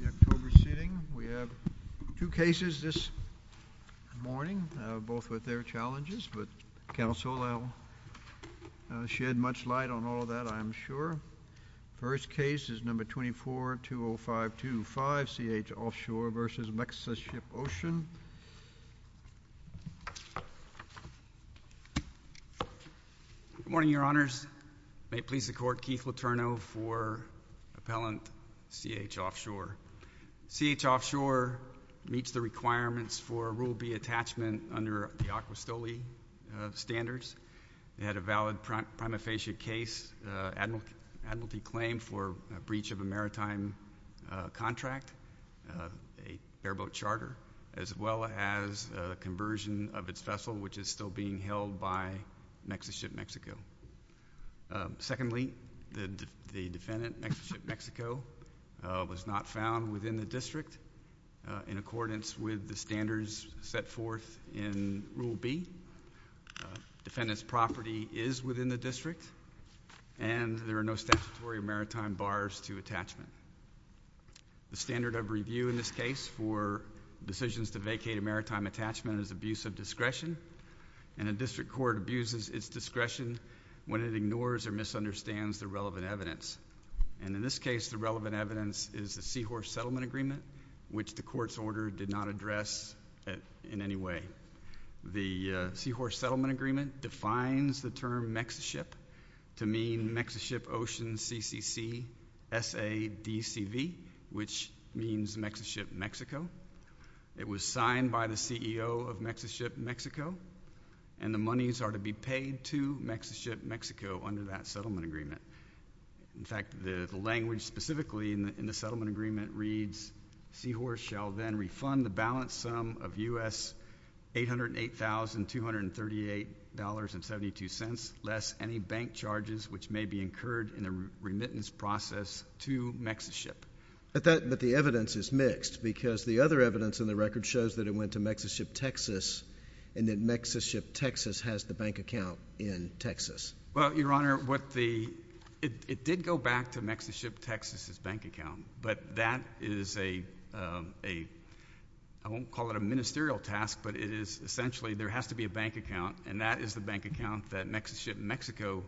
The October seating. We have two cases this morning, both with their challenges, but counsel will shed much light on all of that, I'm sure. First case is No. 24-20525, C.H. Offshore v. Mexiship Ocean. Good morning, Your Honors. May it please the Court, Keith Letourneau for Appellant C.H. Offshore. C.H. Offshore meets the requirements for Rule B attachment under the Acqua Stoli standards. They had a valid prima facie case, admiralty claim for breach of a maritime contract, a airboat charter, as well as a conversion of its vessel, which is still being held by Mexiship Mexico. Secondly, the defendant, Mexiship Mexico, was not found within the district in accordance with the standards set forth in Rule B. Defendant's property is within the district, and there are no statutory maritime bars to attachment. The standard of review in this case for decisions to vacate a maritime attachment is abuse of discretion, and a district court abuses its discretion when it ignores or misunderstands the relevant evidence. And in this case, the relevant evidence is the seahorse settlement agreement, which the court's order did not address in any way. The seahorse settlement agreement defines the term Mexiship to mean Mexiship Ocean CCC SADCV, which means Mexiship Mexico. It was signed by the CEO of Mexiship Mexico, and the monies are to be paid to Mexiship Mexico under that settlement agreement. In fact, the language specifically in the settlement agreement reads, seahorse shall then refund the balance sum of U.S. $808,238.72 less any bank charges which may be incurred in the remittance process to Mexiship. But the evidence is mixed, because the other evidence in the record shows that it went to Mexiship Texas, and that Mexiship Texas has the bank account in Texas. Well, Your Honor, it did go back to Mexiship Texas's bank account, but that is a I won't call it a ministerial task, but it is essentially there has to be a bank account, and that is the bank account that Mexiship Mexico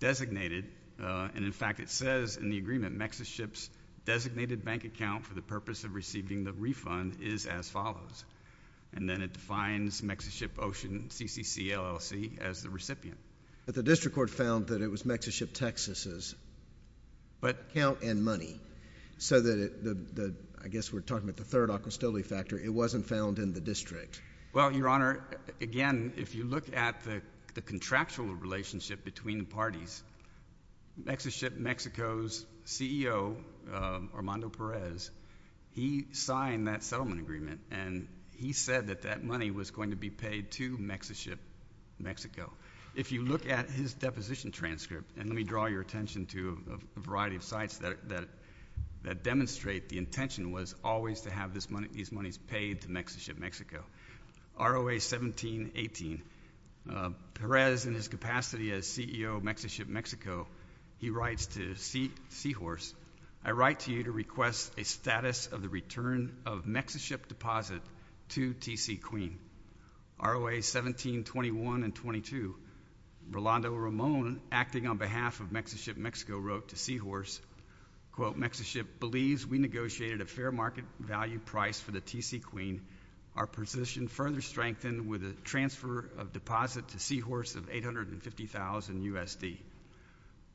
designated. And in fact, it says in the agreement, Mexiship's designated bank account for the purpose of receiving the refund is as follows. And then it defines Mexiship Ocean CCC LLC as the recipient. But the district court found that it was Mexiship Texas's account and money, so that I guess we're talking about the third Occult Stability Factor. It wasn't found in the district. Well, Your Honor, again, if you look at the contractual relationship between the parties, Mexiship Mexico's CEO, Armando Perez, he signed that settlement agreement, and he said that that money was going to be paid to Mexiship Mexico. If you look at his deposition transcript, and let me draw your attention to a variety of sites that demonstrate the intention was always to have these monies paid to Mexiship Mexico. ROA 1718. Perez, in his capacity as CEO of Mexiship Mexico, he writes to Seahorse, I write to you to request a status of the return of Mexiship deposit to T.C. Queen. ROA 1721 and 22. Rolando Ramon, acting on behalf of Mexiship Mexico, wrote to Seahorse, quote, Mexiship believes we negotiated a fair market value price for the T.C. Queen. Our position further strengthened with a transfer of deposit to Seahorse of $850,000 USD.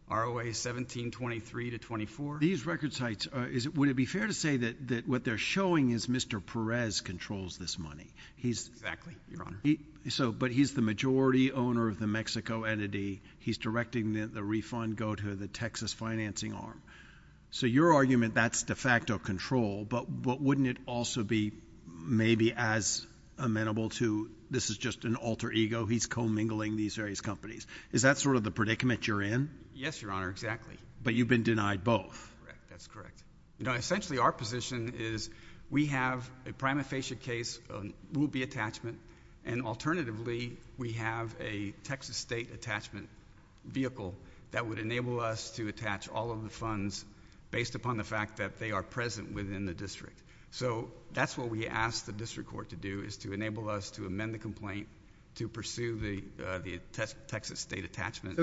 ROA 1723 to 24. These record sites, would it be fair to say that what they're showing is Mr. Perez controls this money? Exactly, Your Honor. But he's the majority owner of the Mexico entity, he's directing the refund go to the Texas financing arm. So your argument, that's de facto control, but wouldn't it also be maybe as amenable to, this is just an alter ego, he's commingling these various companies. Is that sort of the predicament you're in? Yes, Your Honor, exactly. But you've been denied both. Correct, that's correct. Essentially our position is we have a prima facie case, will be attachment, and alternatively we have a Texas state attachment vehicle that would enable us to attach all of the funds based upon the fact that they are present within the district. So that's what we ask the district court to do, is to enable us to amend the complaint to pursue the Texas state attachment.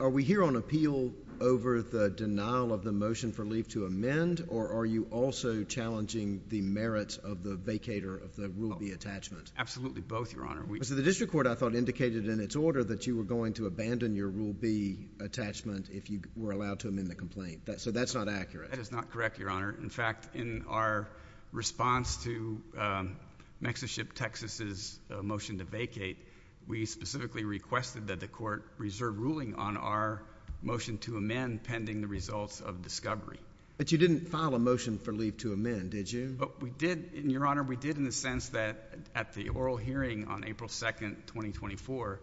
Are we here on appeal over the denial of the motion for leave to amend, or are you also challenging the merits of the vacator of the Rule B attachment? Absolutely both, Your Honor. So the district court, I thought, indicated in its order that you were going to abandon your Rule B attachment if you were allowed to amend the complaint. So that's not accurate. That is not correct, Your Honor. In fact, in our response to Mexiship Texas's motion to vacate, we specifically requested that the court reserve ruling on our motion to amend pending the results of discovery. But you didn't file a motion for leave to amend, did you? We did, Your Honor. We did in the sense that at the oral hearing on April 2nd, 2024,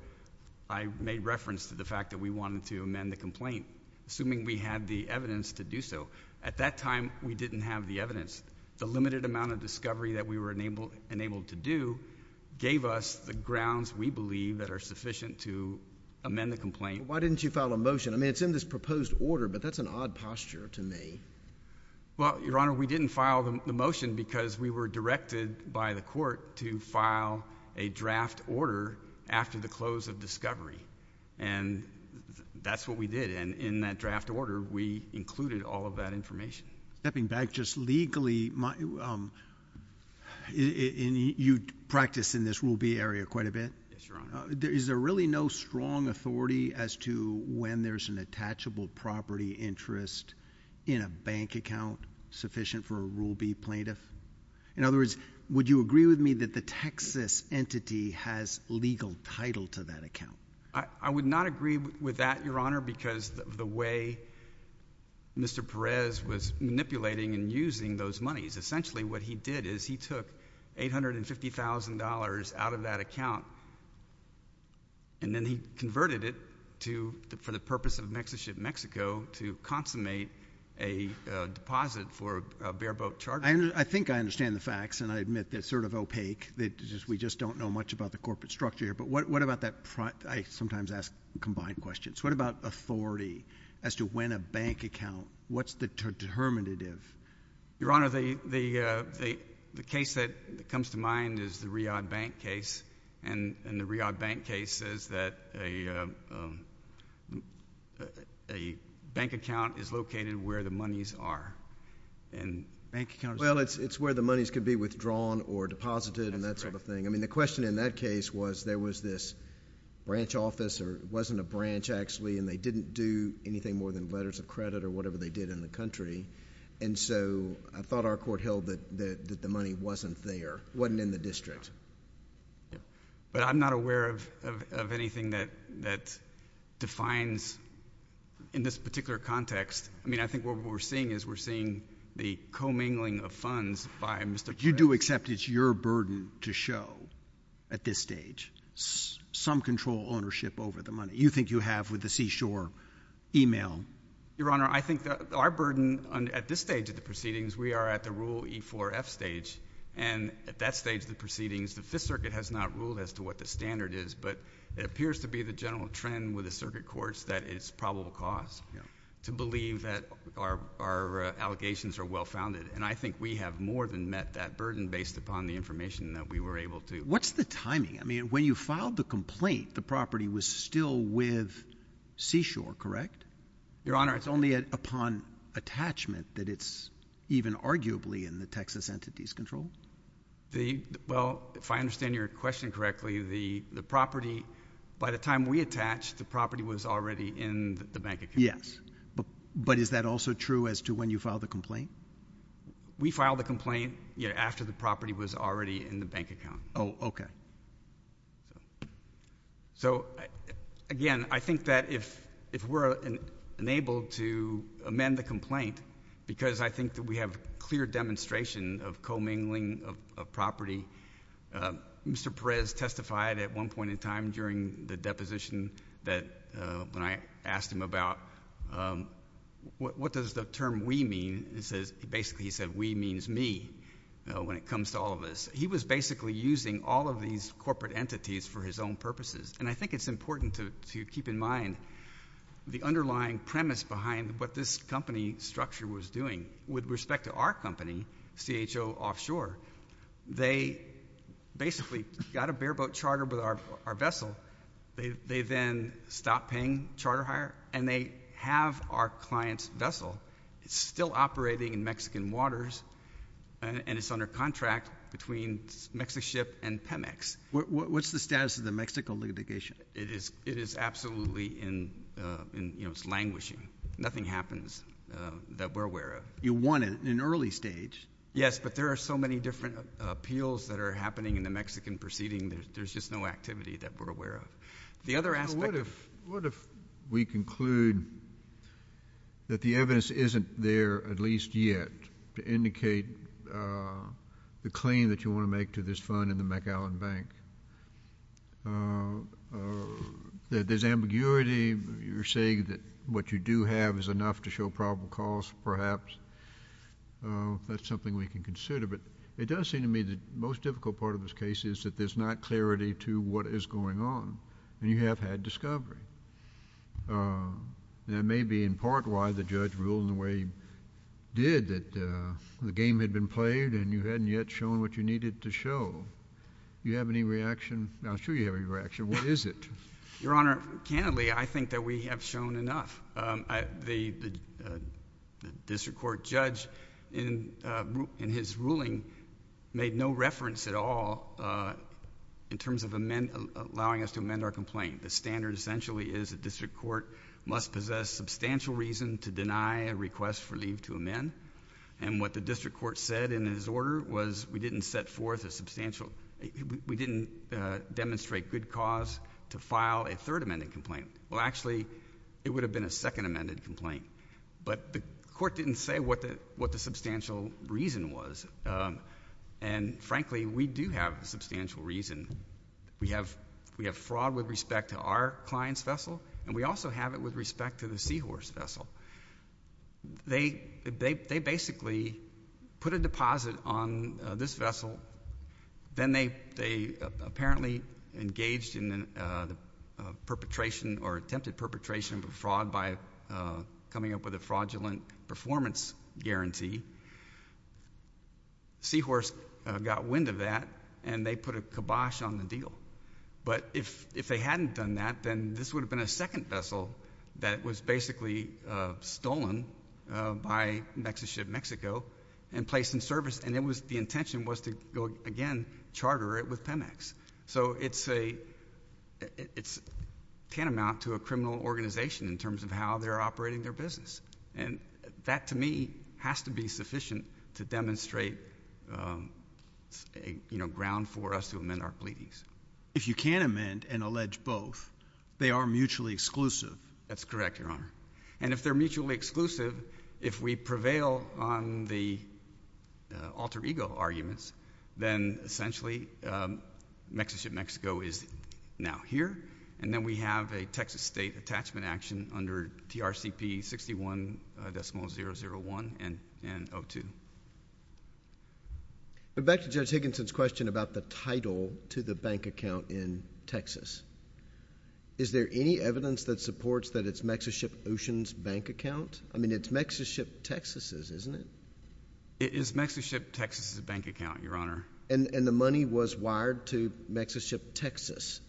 I made reference to the fact that we wanted to amend the complaint, assuming we had the evidence to do so. At that time, we didn't have the evidence. The limited amount of discovery that we were enabled to do gave us the grounds, we believe, that are sufficient to amend the complaint. Why didn't you file a motion? I mean, it's in this proposed order, but that's an odd posture to me. Well, Your Honor, we didn't file the motion because we were directed by the court to file a draft order after the close of discovery. And that's what we did. And in that draft order, we included all of that information. Stepping back just a little bit, is there really no strong authority as to when there's an attachable property interest in a bank account sufficient for a Rule B plaintiff? In other words, would you agree with me that the Texas entity has legal title to that account? I would not agree with that, Your Honor, because of the way Mr. Perez was manipulating and using those monies. Essentially, what he did is he took $850,000 out of that account, and then he converted it for the purpose of Mexiship Mexico to consummate a deposit for a bare-boat charter. I think I understand the facts, and I admit that it's sort of opaque. We just don't know much about the corporate structure here. But what about that? I sometimes ask combined questions. What about authority as to when a bank account, what's the determinative? Your Honor, the case that comes to mind is the Riyadh Bank case. And the Riyadh Bank case says that a bank account is located where the monies are. And bank accounts... Well, it's where the monies could be withdrawn or deposited and that sort of thing. I mean, the question in that case was there was this branch office, or it wasn't a branch actually, and they didn't do anything more than letters of credit or whatever they did in the country. And so, I thought our court held that the money wasn't there, wasn't in the district. But I'm not aware of anything that defines in this particular context. I mean, I think what we're seeing is we're seeing the commingling of funds by Mr. Perez. But you do accept it's your burden to show at this stage some control ownership over the money? You think you have with the Seashore email? Your Honor, I think our burden at this stage of the proceedings, we are at the Rule E-4-F stage. And at that stage of the proceedings, the Fifth Circuit has not ruled as to what the standard is. But it appears to be the general trend with the circuit courts that it's probable cause to believe that our allegations are well-founded. And I think we have more than met that burden based upon the information that we were able to. What's the timing? I mean, when you filed the complaint, the property was still with Seashore, correct? Your Honor, it's only upon attachment that it's even arguably in the Texas Entities Control. Well, if I understand your question correctly, the property, by the time we attached, the property was already in the Bank of Connecticut. Yes. But is that also true as to when you filed the complaint? We filed the complaint, you know, after the property was already in the bank account. Oh, okay. So, again, I think that if we're enabled to amend the complaint, because I think that we have clear demonstration of commingling of property, Mr. Perez testified at one point in time during the deposition that when I filed, what does the term we mean? Basically, he said, we means me, you know, when it comes to all of this. He was basically using all of these corporate entities for his own purposes. And I think it's important to keep in mind the underlying premise behind what this company structure was doing. With respect to our company, CHO Offshore, they basically got a bareboat charter with our vessel. They then stopped paying charter hire, and they have our client's vessel. It's still operating in Mexican waters, and it's under contract between Mexico Ship and Pemex. What's the status of the Mexico litigation? It is absolutely in, you know, it's languishing. Nothing happens that we're aware of. You won it in an early stage. Yes, but there are so many different appeals that are happening in the Mexican proceeding. There's just no activity that we're aware of. The other aspect of So what if we conclude that the evidence isn't there at least yet to indicate the claim that you want to make to this fund in the McAllen Bank? There's ambiguity. You're saying that what you do have is enough to show probable cause, perhaps. That's something we can consider. But it does seem to me the most difficult part of this case is that there's not clarity to what is going on, and you have had discovery. That may be in part why the judge ruled in the way he did, that the game had been played, and you hadn't yet shown what you needed to show. Do you have any reaction? I'm sure you have a reaction. What is it? Your Honor, candidly, I think that we have shown enough. The district court judge, in his ruling, made no reference at all in terms of allowing us to amend our complaint. The standard, essentially, is the district court must possess substantial reason to deny a request for leave to amend, and what the district court said in his order was we didn't set forth a substantial, we didn't demonstrate good cause to file a third amended complaint. Well, actually, it would have been a second amended complaint, but the court didn't say what the substantial reason was, and frankly, we do have a substantial reason. We have fraud with respect to our client's vessel, and we also have it with respect to the Seahorse vessel. They basically put a deposit on this vessel. Then they apparently engaged in the perpetration or attempted perpetration of a fraud by coming up with a fraudulent performance guarantee. Seahorse got wind of that, and they put a kibosh on the deal, but if they hadn't done that, then this would have been a second vessel that was basically stolen by Nexus Ship Mexico and placed in service, and the intention was to go, again, charter it with Pemex. So it's tantamount to a criminal organization in terms of how they're operating their business, and that, to me, has to be sufficient to demonstrate, you know, ground for us to amend our pleadings. If you can amend and allege both, they are mutually exclusive. That's correct, Your Honor, and if they're mutually exclusive, if we prevail on the alter ego arguments, then essentially Nexus Ship Mexico is now here, and then we have a Texas State attachment action under TRCP 61.001 and 02. Back to Judge Higginson's question about the title to the bank account in Texas. Is there any evidence that supports that it's Nexus Ship Ocean's bank account? I mean, it's Nexus Ship Texas's, isn't it? It is Nexus Ship Texas's bank account, Your Honor. And the money was wired to Nexus Ship Texas,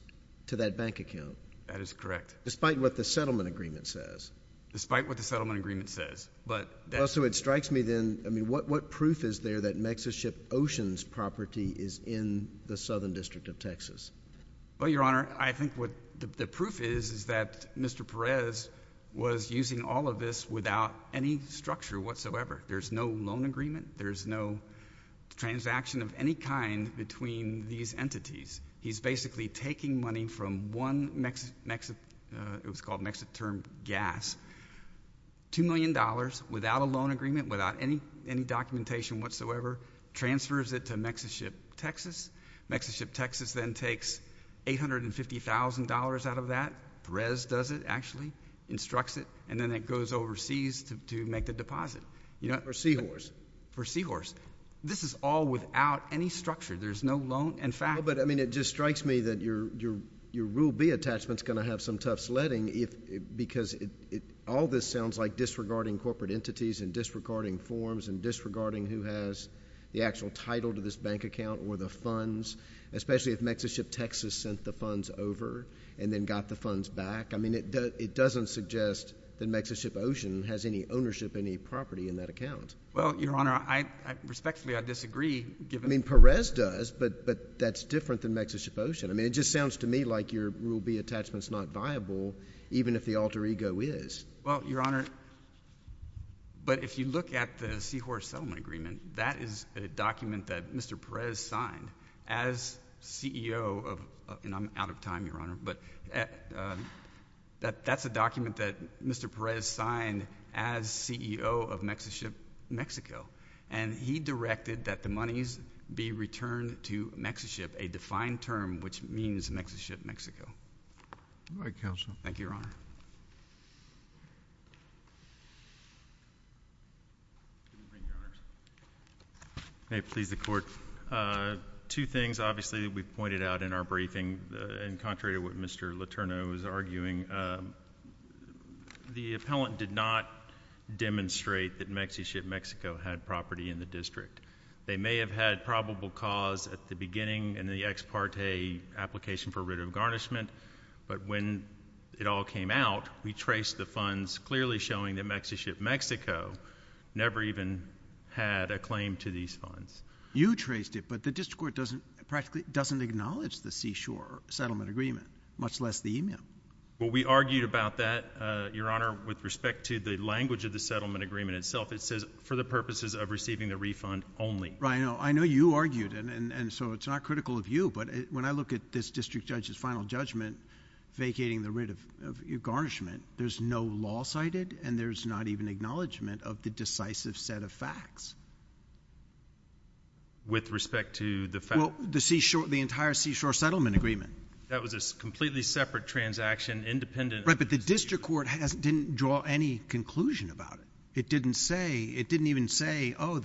to that bank account? That is correct. Despite what the settlement agreement says? Despite what the settlement agreement says, but that's... Well, so it strikes me, then, I mean, what proof is there that Nexus Ship Ocean's property is in the Southern District of Texas? Well, Your Honor, I think what the proof is is that Mr. Perez was using all of this without any structure whatsoever. There's no loan agreement. There's no transaction of any kind between these entities. He's basically taking money from one, it was called Nexus Term Gas, two million dollars without a loan agreement, without any documentation whatsoever, transfers it to Nexus Ship Texas. Nexus Ship Texas then takes $850,000 out of that. Perez does it, actually, instructs it, and then it goes overseas to make the deposit. For Seahorse? For Seahorse. This is all without any structure. There's no loan... Well, but, I mean, it just strikes me that your Rule B attachment's going to have some tough sledding, because all this sounds like disregarding corporate entities and disregarding forms and disregarding who has the actual title to this bank account or the funds, especially if Nexus Ship Texas sent the funds over and then got the funds back. I mean, it doesn't suggest that Nexus Ship Ocean has any ownership, any property in that account. Well, Your Honor, respectfully, I disagree, given... I mean, Perez does, but that's different than Nexus Ship Ocean. I mean, it just sounds to me like your Rule B attachment's not viable, even if the alter ego is. Well, Your Honor, but if you look at the Seahorse settlement agreement, that is a document that Mr. Perez signed as CEO of... and I'm out of time, Your Honor, but that's a document that Mr. Perez signed as CEO of Nexus Ship Mexico, and he directed that the monies be returned to Nexus Ship, a defined term which means Nexus Ship Mexico. All right, Counsel. Thank you, Your Honor. May it please the Court, two things, obviously, that we pointed out in our briefing, in contrary to what Mr. Letourneau was arguing. The appellant did not demonstrate that Nexus Ship Mexico had property in the district. They may have had probable cause at the beginning in the ex parte application for writ of garnishment, but when it all came out, we traced the funds clearly showing that Nexus Ship Mexico never even had a claim to these funds. You traced it, but the district court doesn't... practically doesn't acknowledge the Seashore settlement agreement, much less the email. Well, we argued about that, Your Honor, with respect to the language of the settlement agreement itself. It says, for the purposes of receiving the refund only. Right, I know. I know you argued, and so it's not critical of you, but when I look at this district judge's final judgment vacating the writ of garnishment, there's no law cited, and there's not even acknowledgment of the decisive set of facts. With respect to the fact... Well, the entire Seashore settlement agreement. That was a completely separate transaction, independent... Right, but the district court didn't draw any conclusion about it. It didn't say... it Well,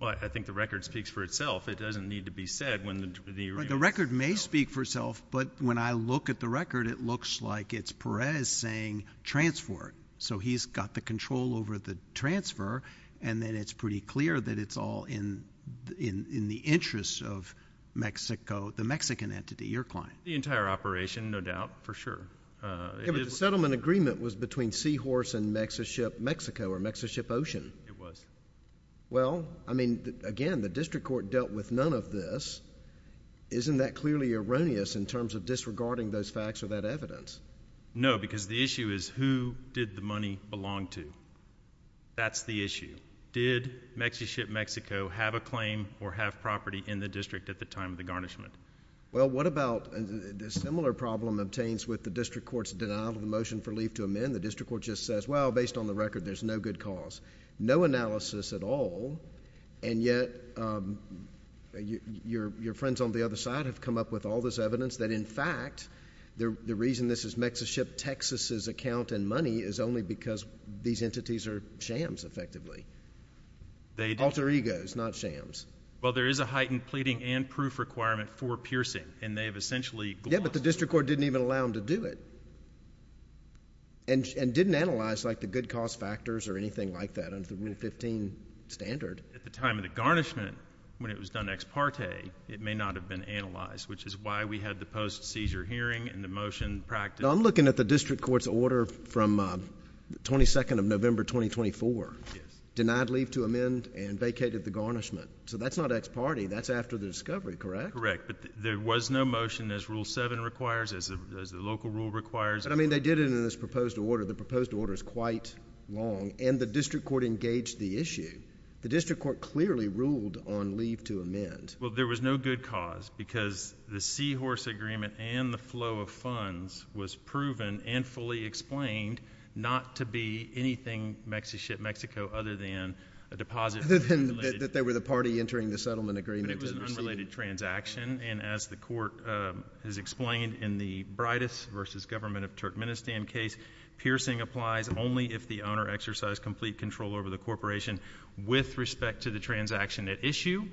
I think the record speaks for itself. It doesn't need to be said when the... The record may speak for itself, but when I look at the record, it looks like it's Perez saying transfer it, so he's got the control over the transfer, and then it's pretty clear that it's all in the interest of Mexico, the Mexican entity, your client. The entire operation, no doubt, for sure. Yeah, but the settlement agreement was between Seahorse and Nexus Ship Mexico, or Nexus Ship Ocean. It was. Well, I mean, again, the district court dealt with none of this. Isn't that clearly erroneous in terms of disregarding those facts or that evidence? No, because the issue is who did the money belong to? That's the issue. Did Nexus Ship Mexico have a claim or have property in the district at the time of the garnishment? Well, what about... a similar problem obtains with the district court's denial of the motion for leave to amend. The district court just says, well, based on the record, there's no good cause, no analysis at all, and yet your friends on the other side have come up with all this evidence that, in fact, the reason this is Nexus Ship Texas's account and money is only because these entities are shams, effectively. Alter egos, not shams. Well, there is a heightened pleading and proof requirement for piercing, and they have essentially... Yeah, but the district court didn't even allow them to do it and didn't analyze the good cause factors or anything like that under the Rule 15 standard. At the time of the garnishment, when it was done ex parte, it may not have been analyzed, which is why we had the post-seizure hearing and the motion practiced... Now, I'm looking at the district court's order from the 22nd of November, 2024. Yes. Denied leave to amend and vacated the garnishment. So, that's not ex parte. That's after the discovery, correct? Correct, but there was no motion as Rule 7 requires, as the local rule requires. But, I mean, they did it in this proposed order. The proposed order is quite long, and the district court engaged the issue. The district court clearly ruled on leave to amend. Well, there was no good cause because the seahorse agreement and the flow of funds was proven and fully explained not to be anything Nexus Ship Mexico other than a deposit... Other than that they were the party entering the settlement agreement. But it was an unrelated transaction, and as the court has explained, in the brightest versus government of Turkmenistan case, piercing applies only if the owner exercised complete control over the corporation with respect to the transaction at issue,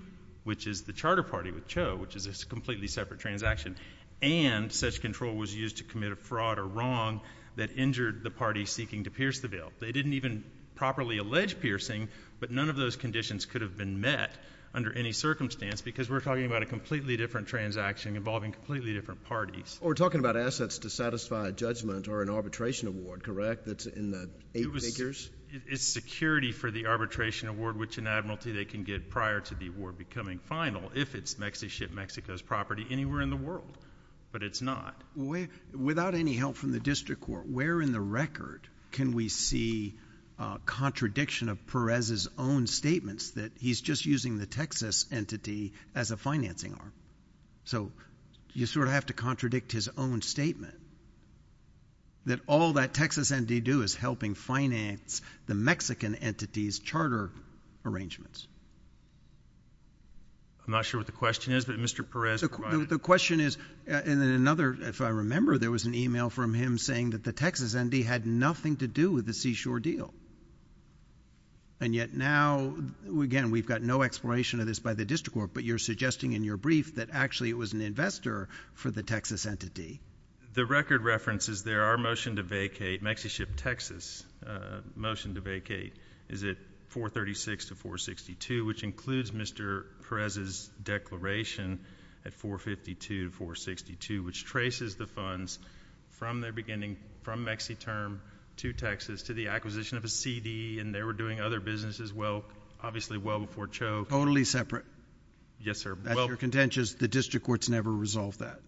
which is the charter party with Cho, which is a completely separate transaction, and such control was used to commit a fraud or wrong that injured the party seeking to pierce the bill. They didn't even properly allege piercing, but none of those conditions could have been met under any circumstance because we're talking about a completely different transaction involving completely different parties. We're talking about assets to satisfy judgment or an arbitration award, correct, that's in the eight figures? It's security for the arbitration award, which in admiralty they can get prior to the award becoming final if it's Nexus Ship Mexico's property anywhere in the world, but it's not. Without any help from the district court, where in the record can we see a contradiction of Perez's own statements that he's just using the Texas entity as a financing arm? So you sort of have to contradict his own statement that all that Texas entity do is helping finance the Mexican entity's charter arrangements. I'm not sure what the question is, but Mr. Perez provided. The question is, and then another, if I remember, there was an email from him saying that the Texas entity had nothing to do with the seashore deal, and yet now, again, we've got no exploration of this by the district court, but you're suggesting in your brief that actually it was an investor for the Texas entity. The record reference is there are motion to vacate, Mexi Ship Texas motion to vacate is at 436 to 462, which includes Mr. Perez's declaration at 452 to 462, which traces the funds from their beginning, from Mexi term to Texas to the acquisition of a CD, and they were doing other businesses well, obviously well before Choke. Totally separate. Yes, sir. That's your contentious, the district court's never resolved that,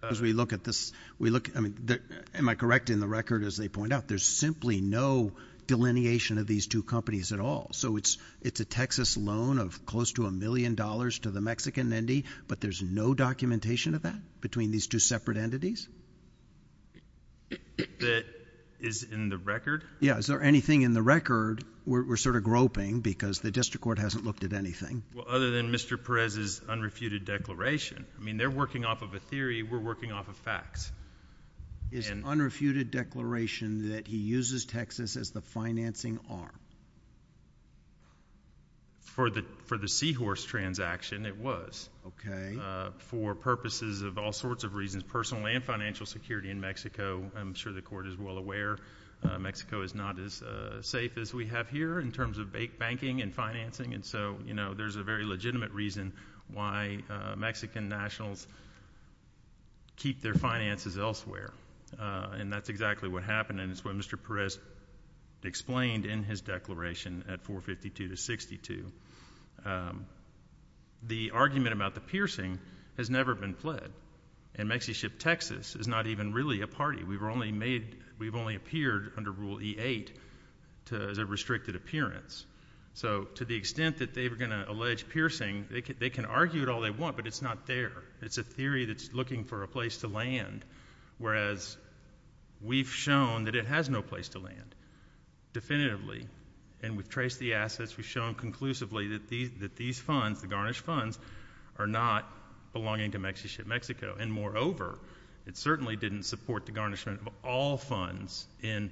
because we look at this, we look, I mean, am I correct in the record as they point out, there's simply no delineation of these two companies at all, so it's a Texas loan of close to a million dollars to the Mexican entity, but there's no documentation of that between these two separate entities? That is in the record? Yeah, is there anything in the record, we're sort of groping, because the district court hasn't looked at anything. Well, other than Mr. Perez's unrefuted declaration, I mean, they're working off of a theory, we're working off of facts. Is unrefuted declaration that he uses Texas as the financing arm? For the Seahorse transaction, it was. Okay. For purposes of all sorts of reasons, personal and financial security in Mexico, I'm sure the court is well aware, Mexico is not as safe as we have here in terms of banking and financing, and so, you know, there's a very legitimate reason why Mexican nationals keep their finances elsewhere, and that's exactly what happened, and it's what Mr. Perez explained in his declaration at 452 to 62. The argument about the piercing has never been fled, and MexiShip Texas is not even really a party. We've only made, we've only appeared under Rule E-8 as a restricted appearance. So to the extent that they were going to allege piercing, they can argue it all they want, but it's not there. It's a theory that's looking for a place to land, whereas we've shown that it has no place to land definitively, and we've traced the assets, we've shown conclusively that these funds, the garnished funds, are not belonging to MexiShip Mexico, and moreover, it certainly didn't support the garnishment of all funds in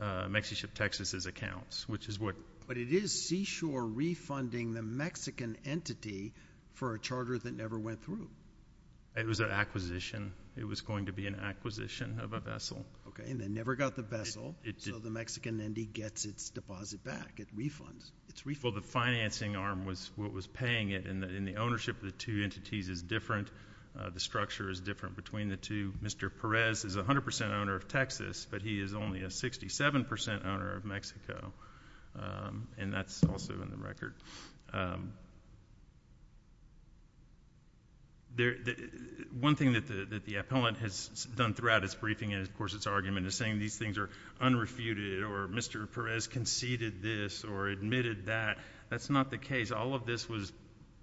MexiShip Texas's accounts, which is what it is. Seashore refunding the Mexican entity for a charter that never went through. It was an acquisition. It was going to be an acquisition of a vessel. Okay, and they never got the vessel, so the Mexican entity gets its deposit back, it refunds. Well, the financing arm was what was paying it, and the ownership of the two entities is different. The structure is different between the two. Mr. Perez is 100% owner of Texas, but he is only a 67% owner of Mexico. And that's also in the record. One thing that the appellant has done throughout its briefing and, of course, its argument is saying these things are unrefuted, or Mr. Perez conceded this or admitted that. That's not the case. All of this was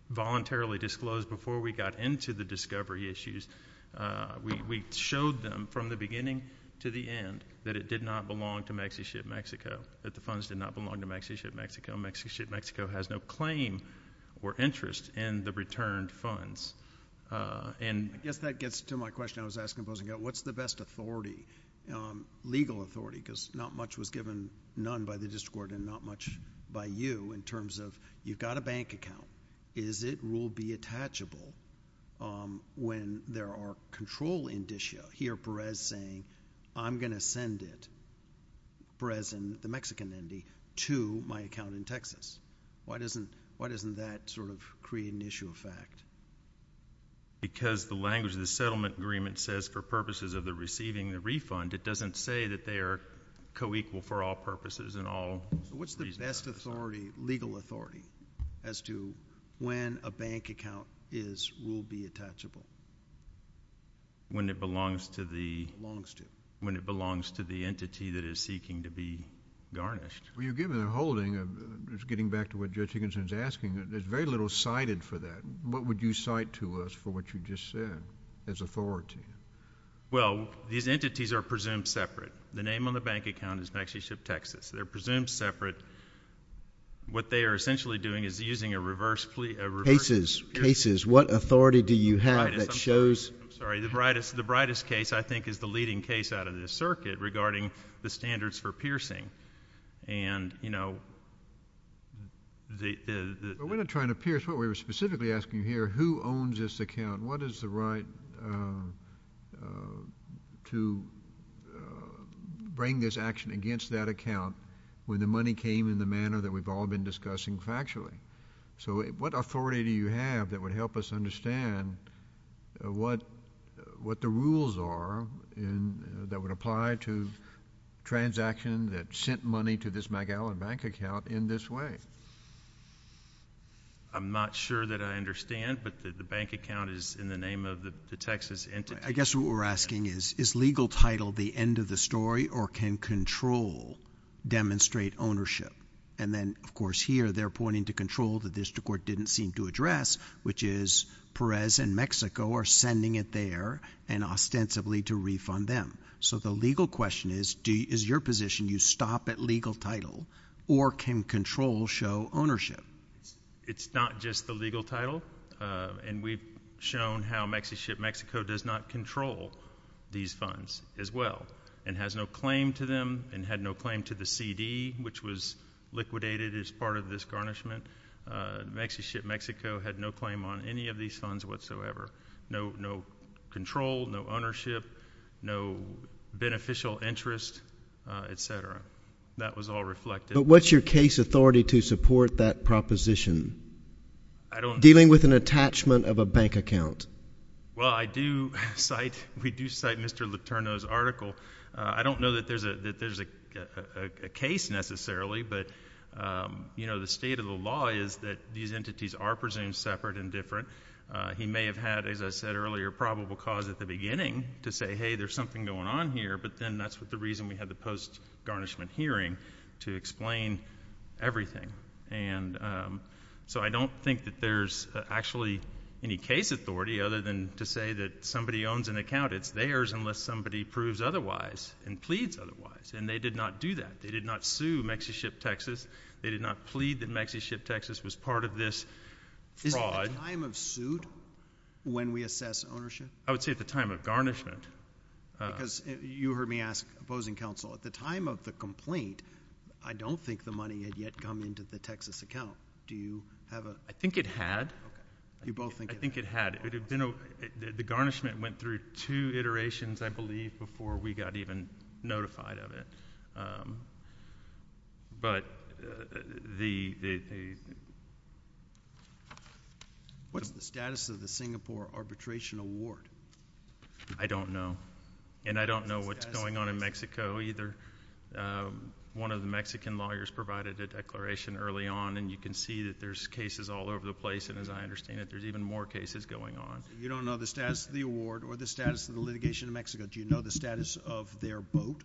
voluntarily disclosed before we got into the discovery issues. We showed them from the beginning to the end that it did not belong to MexiShip Mexico, that the funds did not belong to MexiShip Mexico. MexiShip Mexico has no claim or interest in the returned funds. And I guess that gets to my question I was asking, what's the best authority, legal authority, because not much was given, none by the district court and not much by you in terms of you've got a bank account. Is it rule B attachable when there are control indicia? Hear Perez saying, I'm going to send it, Perez and the Mexican Indy, to my account in Texas. Why doesn't that sort of create an issue of fact? Because the language of the settlement agreement says for purposes of the receiving the refund, it doesn't say that they are co-equal for all purposes and all reasons. What's the best authority, legal authority, as to when a bank account is rule B attachable? When it belongs to the entity that is seeking to be garnished. You're giving a holding, getting back to what Judge Higginson is asking, there's very little cited for that. What would you cite to us for what you just said as authority? Well, these entities are presumed separate. The name on the bank account is MexiShip Texas. They're presumed separate. What they are essentially doing is using a reverse case. Cases. What authority do you have that shows? I'm sorry. The brightest case, I think, is the leading case out of this circuit regarding the standards for piercing. And, you know, the — We're not trying to pierce. What we're specifically asking here, who owns this account? What is the right to bring this action against that account when the money came in the manner that we've all been discussing factually? So what authority do you have that would help us understand what the rules are that would apply to transactions that sent money to this McAllen bank account in this way? I'm not sure that I understand, but the bank account is in the name of the Texas entity. I guess what we're asking is, is legal title the end of the story or can control demonstrate ownership? And then, of course, here they're pointing to control the district court didn't seem to address, which is Perez and Mexico are sending it there and ostensibly to refund them. So the legal question is, is your position you stop at legal title or can control show ownership? It's not just the legal title. And we've shown how Mexico does not control these funds as well and has no claim to them and had no claim to the CD, which was liquidated as part of this garnishment. Mexico had no claim on any of these funds whatsoever. No, no control, no ownership, no beneficial interest, etc. That was all reflected. But what's your case authority to support that proposition? I don't. Dealing with an attachment of a bank account. Well, I do cite, we do cite Mr. Letourneau's article. I don't know that there's a case necessarily, but, you know, the state of the law is that these entities are presumed separate and different. He may have had, as I said earlier, probable cause at the beginning to say, hey, there's something going on here, but then that's the reason we had the post-garnishment hearing to explain everything. And so I don't think that there's actually any case authority other than to say that owns an account, it's theirs unless somebody proves otherwise and pleads otherwise. And they did not do that. They did not sue MexiShipTexas. They did not plead that MexiShipTexas was part of this fraud. Is it the time of suit when we assess ownership? I would say at the time of garnishment. Because you heard me ask opposing counsel, at the time of the complaint, I don't think the money had yet come into the Texas account. Do you have a? I think it had. You both think it had? I think it had. The garnishment went through two iterations, I believe, before we got even notified of it. But the. What's the status of the Singapore Arbitration Award? I don't know. And I don't know what's going on in Mexico either. One of the Mexican lawyers provided a declaration early on, and you can see that there's cases all over the place. And as I understand it, there's even more cases going on. You don't know the status of the award or the status of the litigation in Mexico. Do you know the status of their boat?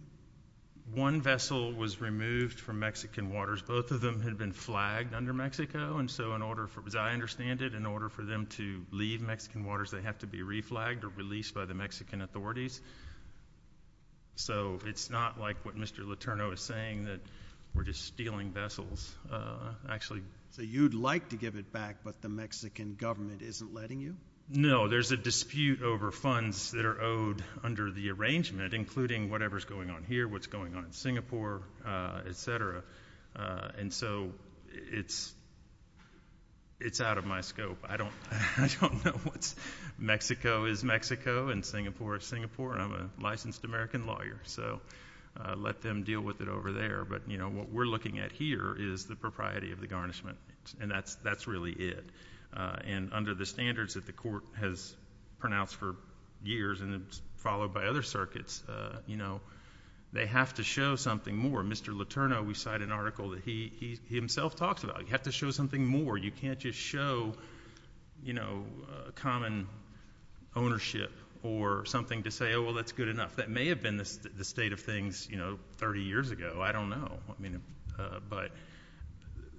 One vessel was removed from Mexican waters. Both of them had been flagged under Mexico. And so in order for, as I understand it, in order for them to leave Mexican waters, they have to be reflagged or released by the Mexican authorities. So it's not like what Mr. Letourneau is saying, that we're just stealing vessels, actually. So you'd like to give it back, but the Mexican government isn't letting you? No. There's a dispute over funds that are owed under the arrangement, including whatever's going on here, what's going on in Singapore, et cetera. And so it's out of my scope. I don't know what's Mexico is Mexico and Singapore is Singapore. I'm a licensed American lawyer, so let them deal with it over there. What we're looking at here is the propriety of the garnishment, and that's really it. And under the standards that the court has pronounced for years and followed by other circuits, they have to show something more. Mr. Letourneau, we cite an article that he himself talks about. You have to show something more. You can't just show common ownership or something to say, oh, well, that's good enough. That may have been the state of things 30 years ago. I don't know. But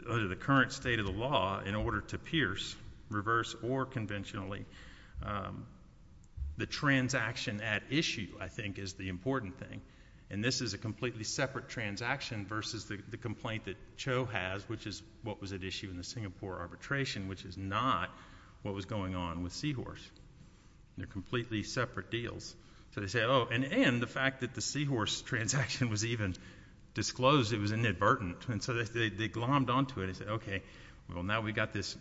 under the current state of the law, in order to pierce, reverse or conventionally, the transaction at issue, I think, is the important thing. And this is a completely separate transaction versus the complaint that Cho has, which is what was at issue in the Singapore arbitration, which is not what was going on with Seahorse. They're completely separate deals. So they say, oh, and the fact that the Seahorse transaction was even disclosed, it was inadvertent. And so they glommed onto it and said, OK, well, now we've got this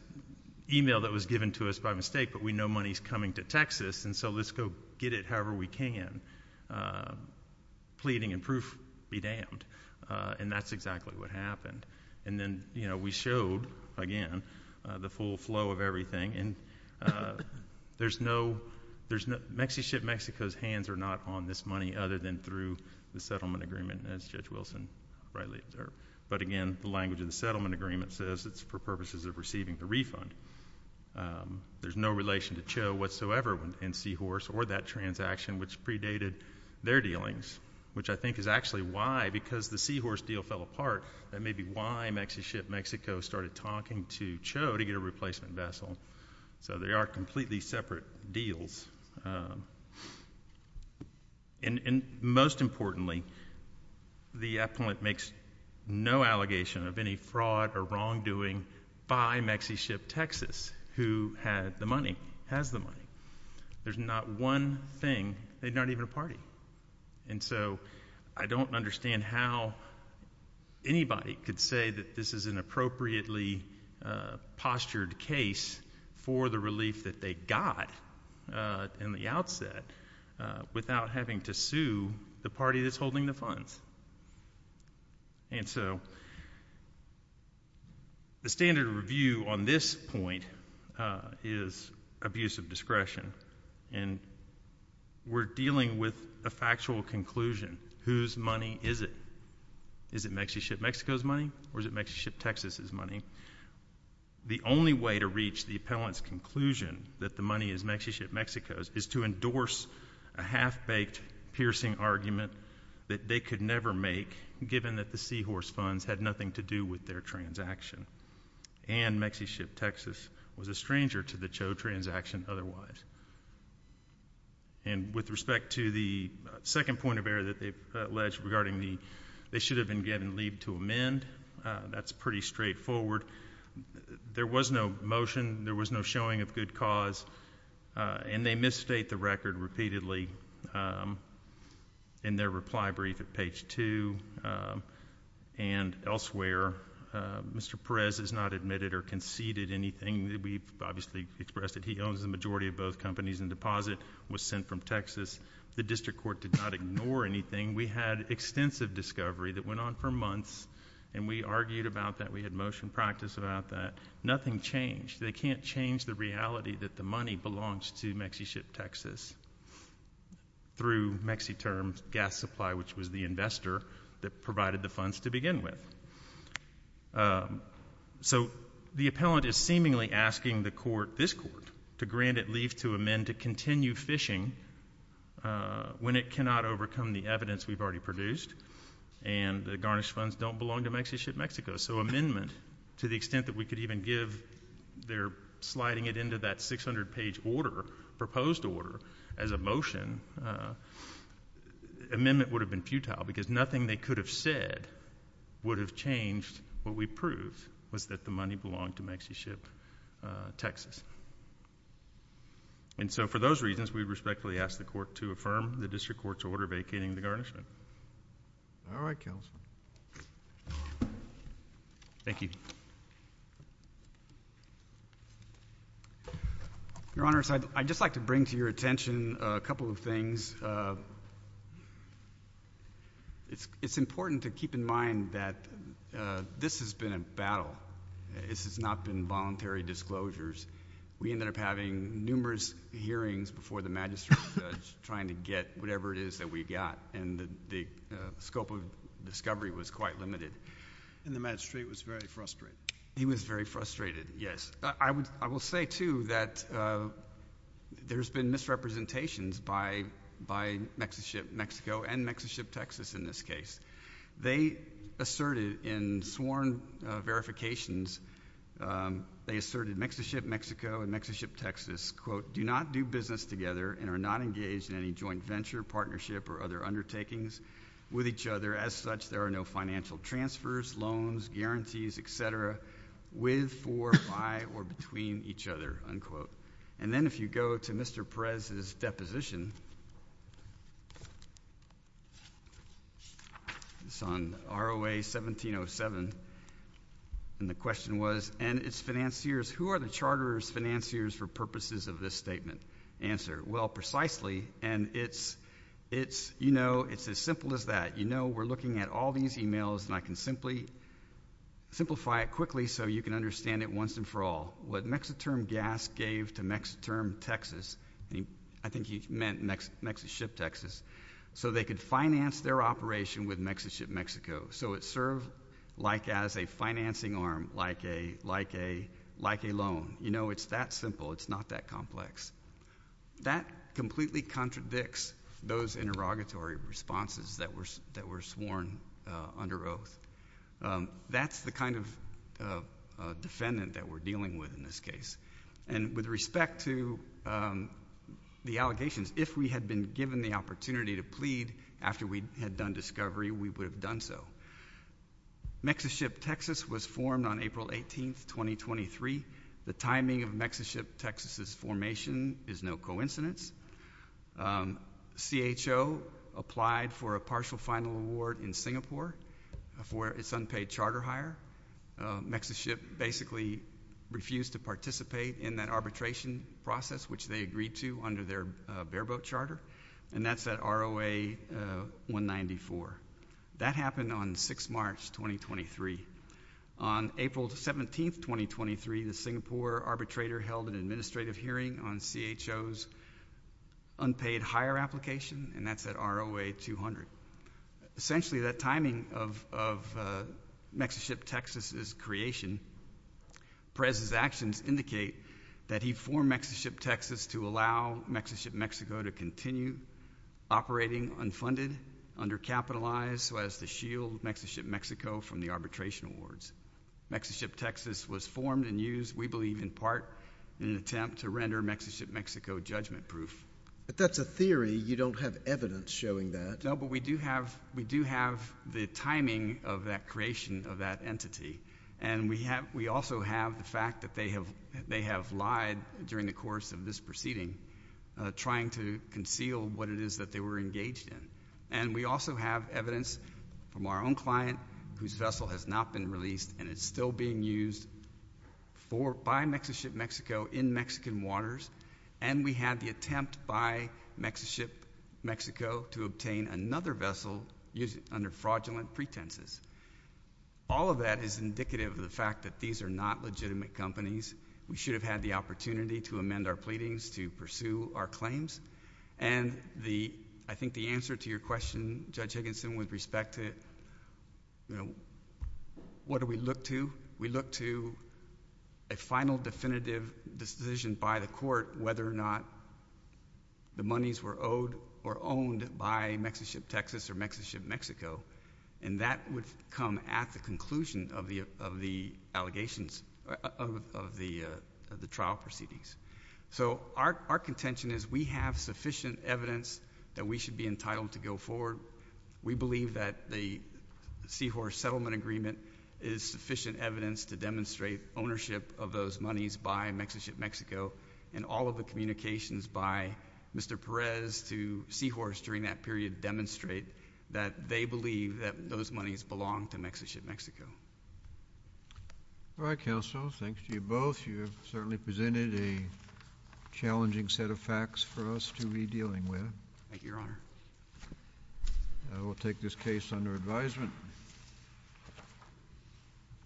email that was given to us by mistake, but we know money's coming to Texas, and so let's go get it however we can, pleading and proof be damned. And that's exactly what happened. And then we showed, again, the full flow of everything. And Mexico's hands are not on this money other than through the settlement agreement, as Judge Wilson rightly observed. But again, the language of the settlement agreement says it's for purposes of receiving the refund. There's no relation to Cho whatsoever in Seahorse or that transaction, which predated their dealings, which I think is actually why, because the Seahorse deal fell apart, that may be why MexiShipMexico started talking to Cho to get a replacement vessel. So they are completely separate deals. And most importantly, the appellant makes no allegation of any fraud or wrongdoing by MexiShipTexas, who had the money, has the money. There's not one thing. They're not even a party. And so I don't understand how anybody could say that this is an appropriately postured case for the relief that they got in the outset without having to sue the party that's holding the funds. And so the standard review on this point is abuse of discretion. And we're dealing with a factual conclusion. Whose money is it? Is it MexiShipMexico's money or is it MexiShipTexas' money? The only way to reach the appellant's conclusion that the money is MexiShipMexico's is to endorse a half-baked, piercing argument that they could never make, given that the Seahorse funds had nothing to do with their transaction. And MexiShipTexas was a stranger to the Cho transaction otherwise. And with respect to the second point of error that they've alleged regarding the, they should have been given leave to amend. That's pretty straightforward. There was no motion. There was no showing of good cause. And they misstate the record repeatedly in their reply brief at page two and elsewhere. Mr. Perez has not admitted or conceded anything. We've obviously expressed that he owns the majority of both companies and deposit was sent from Texas. The district court did not ignore anything. We had extensive discovery that went on for months. And we argued about that. We had motion practice about that. Nothing changed. They can't change the reality that the money belongs to MexiShipTexas through MexiTerms gas supply, which was the investor that provided the funds to begin with. So the appellant is seemingly asking the court, this court, to grant it leave to amend to continue phishing when it cannot overcome the evidence we've already produced and the garnished funds don't belong to MexiShipMexico. So amendment to the extent that we could even give their sliding it into that 600-page order, proposed order, as a motion, amendment would have been futile because nothing they could have said would have changed what we proved was that the money belonged to MexiShipTexas. And so for those reasons, we respectfully ask the court to affirm the district court's order vacating the garnishment. All right, counsel. Thank you. Your Honor, I'd just like to bring to your attention a couple of things. First, it's important to keep in mind that this has been a battle. This has not been voluntary disclosures. We ended up having numerous hearings before the magistrate's judge trying to get whatever it is that we got, and the scope of discovery was quite limited. And the magistrate was very frustrated. He was very frustrated, yes. I will say, too, that there's been misrepresentations by MexiShipMexico and MexiShipTexas in this case. They asserted in sworn verifications, they asserted MexiShipMexico and MexiShipTexas, quote, do not do business together and are not engaged in any joint venture, partnership, or other undertakings with each other. As such, there are no financial transfers, loans, guarantees, et cetera, with, for, by, or between each other, unquote. And then if you go to Mr. Perez's deposition, it's on ROA-1707, and the question was, and its financiers, who are the charter's financiers for purposes of this statement? Answer, well, precisely, and it's, you know, it's as simple as that. You know, we're looking at all these emails, and I can simply, simplify it quickly so you can understand it once and for all. What MexiTerm Gas gave to MexiTerm Texas, I think he meant MexiShipTexas, so they could finance their operation with MexiShipMexico. So it served like as a financing arm, like a, like a, like a loan. You know, it's that simple. It's not that complex. That completely contradicts those interrogatory responses that were sworn under oath. That's the kind of defendant that we're dealing with in this case. And with respect to the allegations, if we had been given the opportunity to plead after we had done discovery, we would have done so. MexiShipTexas was formed on April 18, 2023. The timing of MexiShipTexas' formation is no coincidence. CHO applied for a partial final award in Singapore for its unpaid charter hire. MexiShip basically refused to participate in that arbitration process, which they agreed to under their bareboat charter, and that's at ROA 194. That happened on 6 March, 2023. On April 17, 2023, the Singapore arbitrator held an administrative hearing on CHO's unpaid hire application, and that's at ROA 200. Essentially, that timing of, of MexiShipTexas' creation, Perez's actions indicate that he formed MexiShipTexas to allow MexiShipMexico to continue operating unfunded, undercapitalized, to shield MexiShipMexico from the arbitration awards. MexiShipTexas was formed and used, we believe, in part in an attempt to render MexiShipMexico judgment proof. But that's a theory. You don't have evidence showing that. No, but we do have, we do have the timing of that creation of that entity. And we have, we also have the fact that they have, they have lied during the course of this proceeding, trying to conceal what it is that they were engaged in. And we also have evidence from our own client whose vessel has not been released and is still being used for, by MexiShipMexico in Mexican waters. And we had the attempt by MexiShipMexico to obtain another vessel using, under fraudulent pretenses. All of that is indicative of the fact that these are not legitimate companies. We should have had the opportunity to amend our pleadings, to pursue our claims. And the, I think the answer to your question, Judge Higginson, with respect to, you know, what do we look to? We look to a final definitive decision by the court whether or not the monies were owed or owned by MexiShipTexas or MexiShipMexico. And that would come at the conclusion of the allegations, of the trial proceedings. So our, our contention is we have sufficient evidence that we should be entitled to go forward. We believe that the Seahorse Settlement Agreement is sufficient evidence to demonstrate ownership of those monies by MexiShipMexico. And all of the communications by Mr. Perez to Seahorse during that period demonstrate that they believe that those monies belong to MexiShipMexico. All right, Counsel. Thanks to you both. You have certainly presented a challenging set of facts for us to be dealing with. Thank you, Your Honor. We'll take this case under advisement.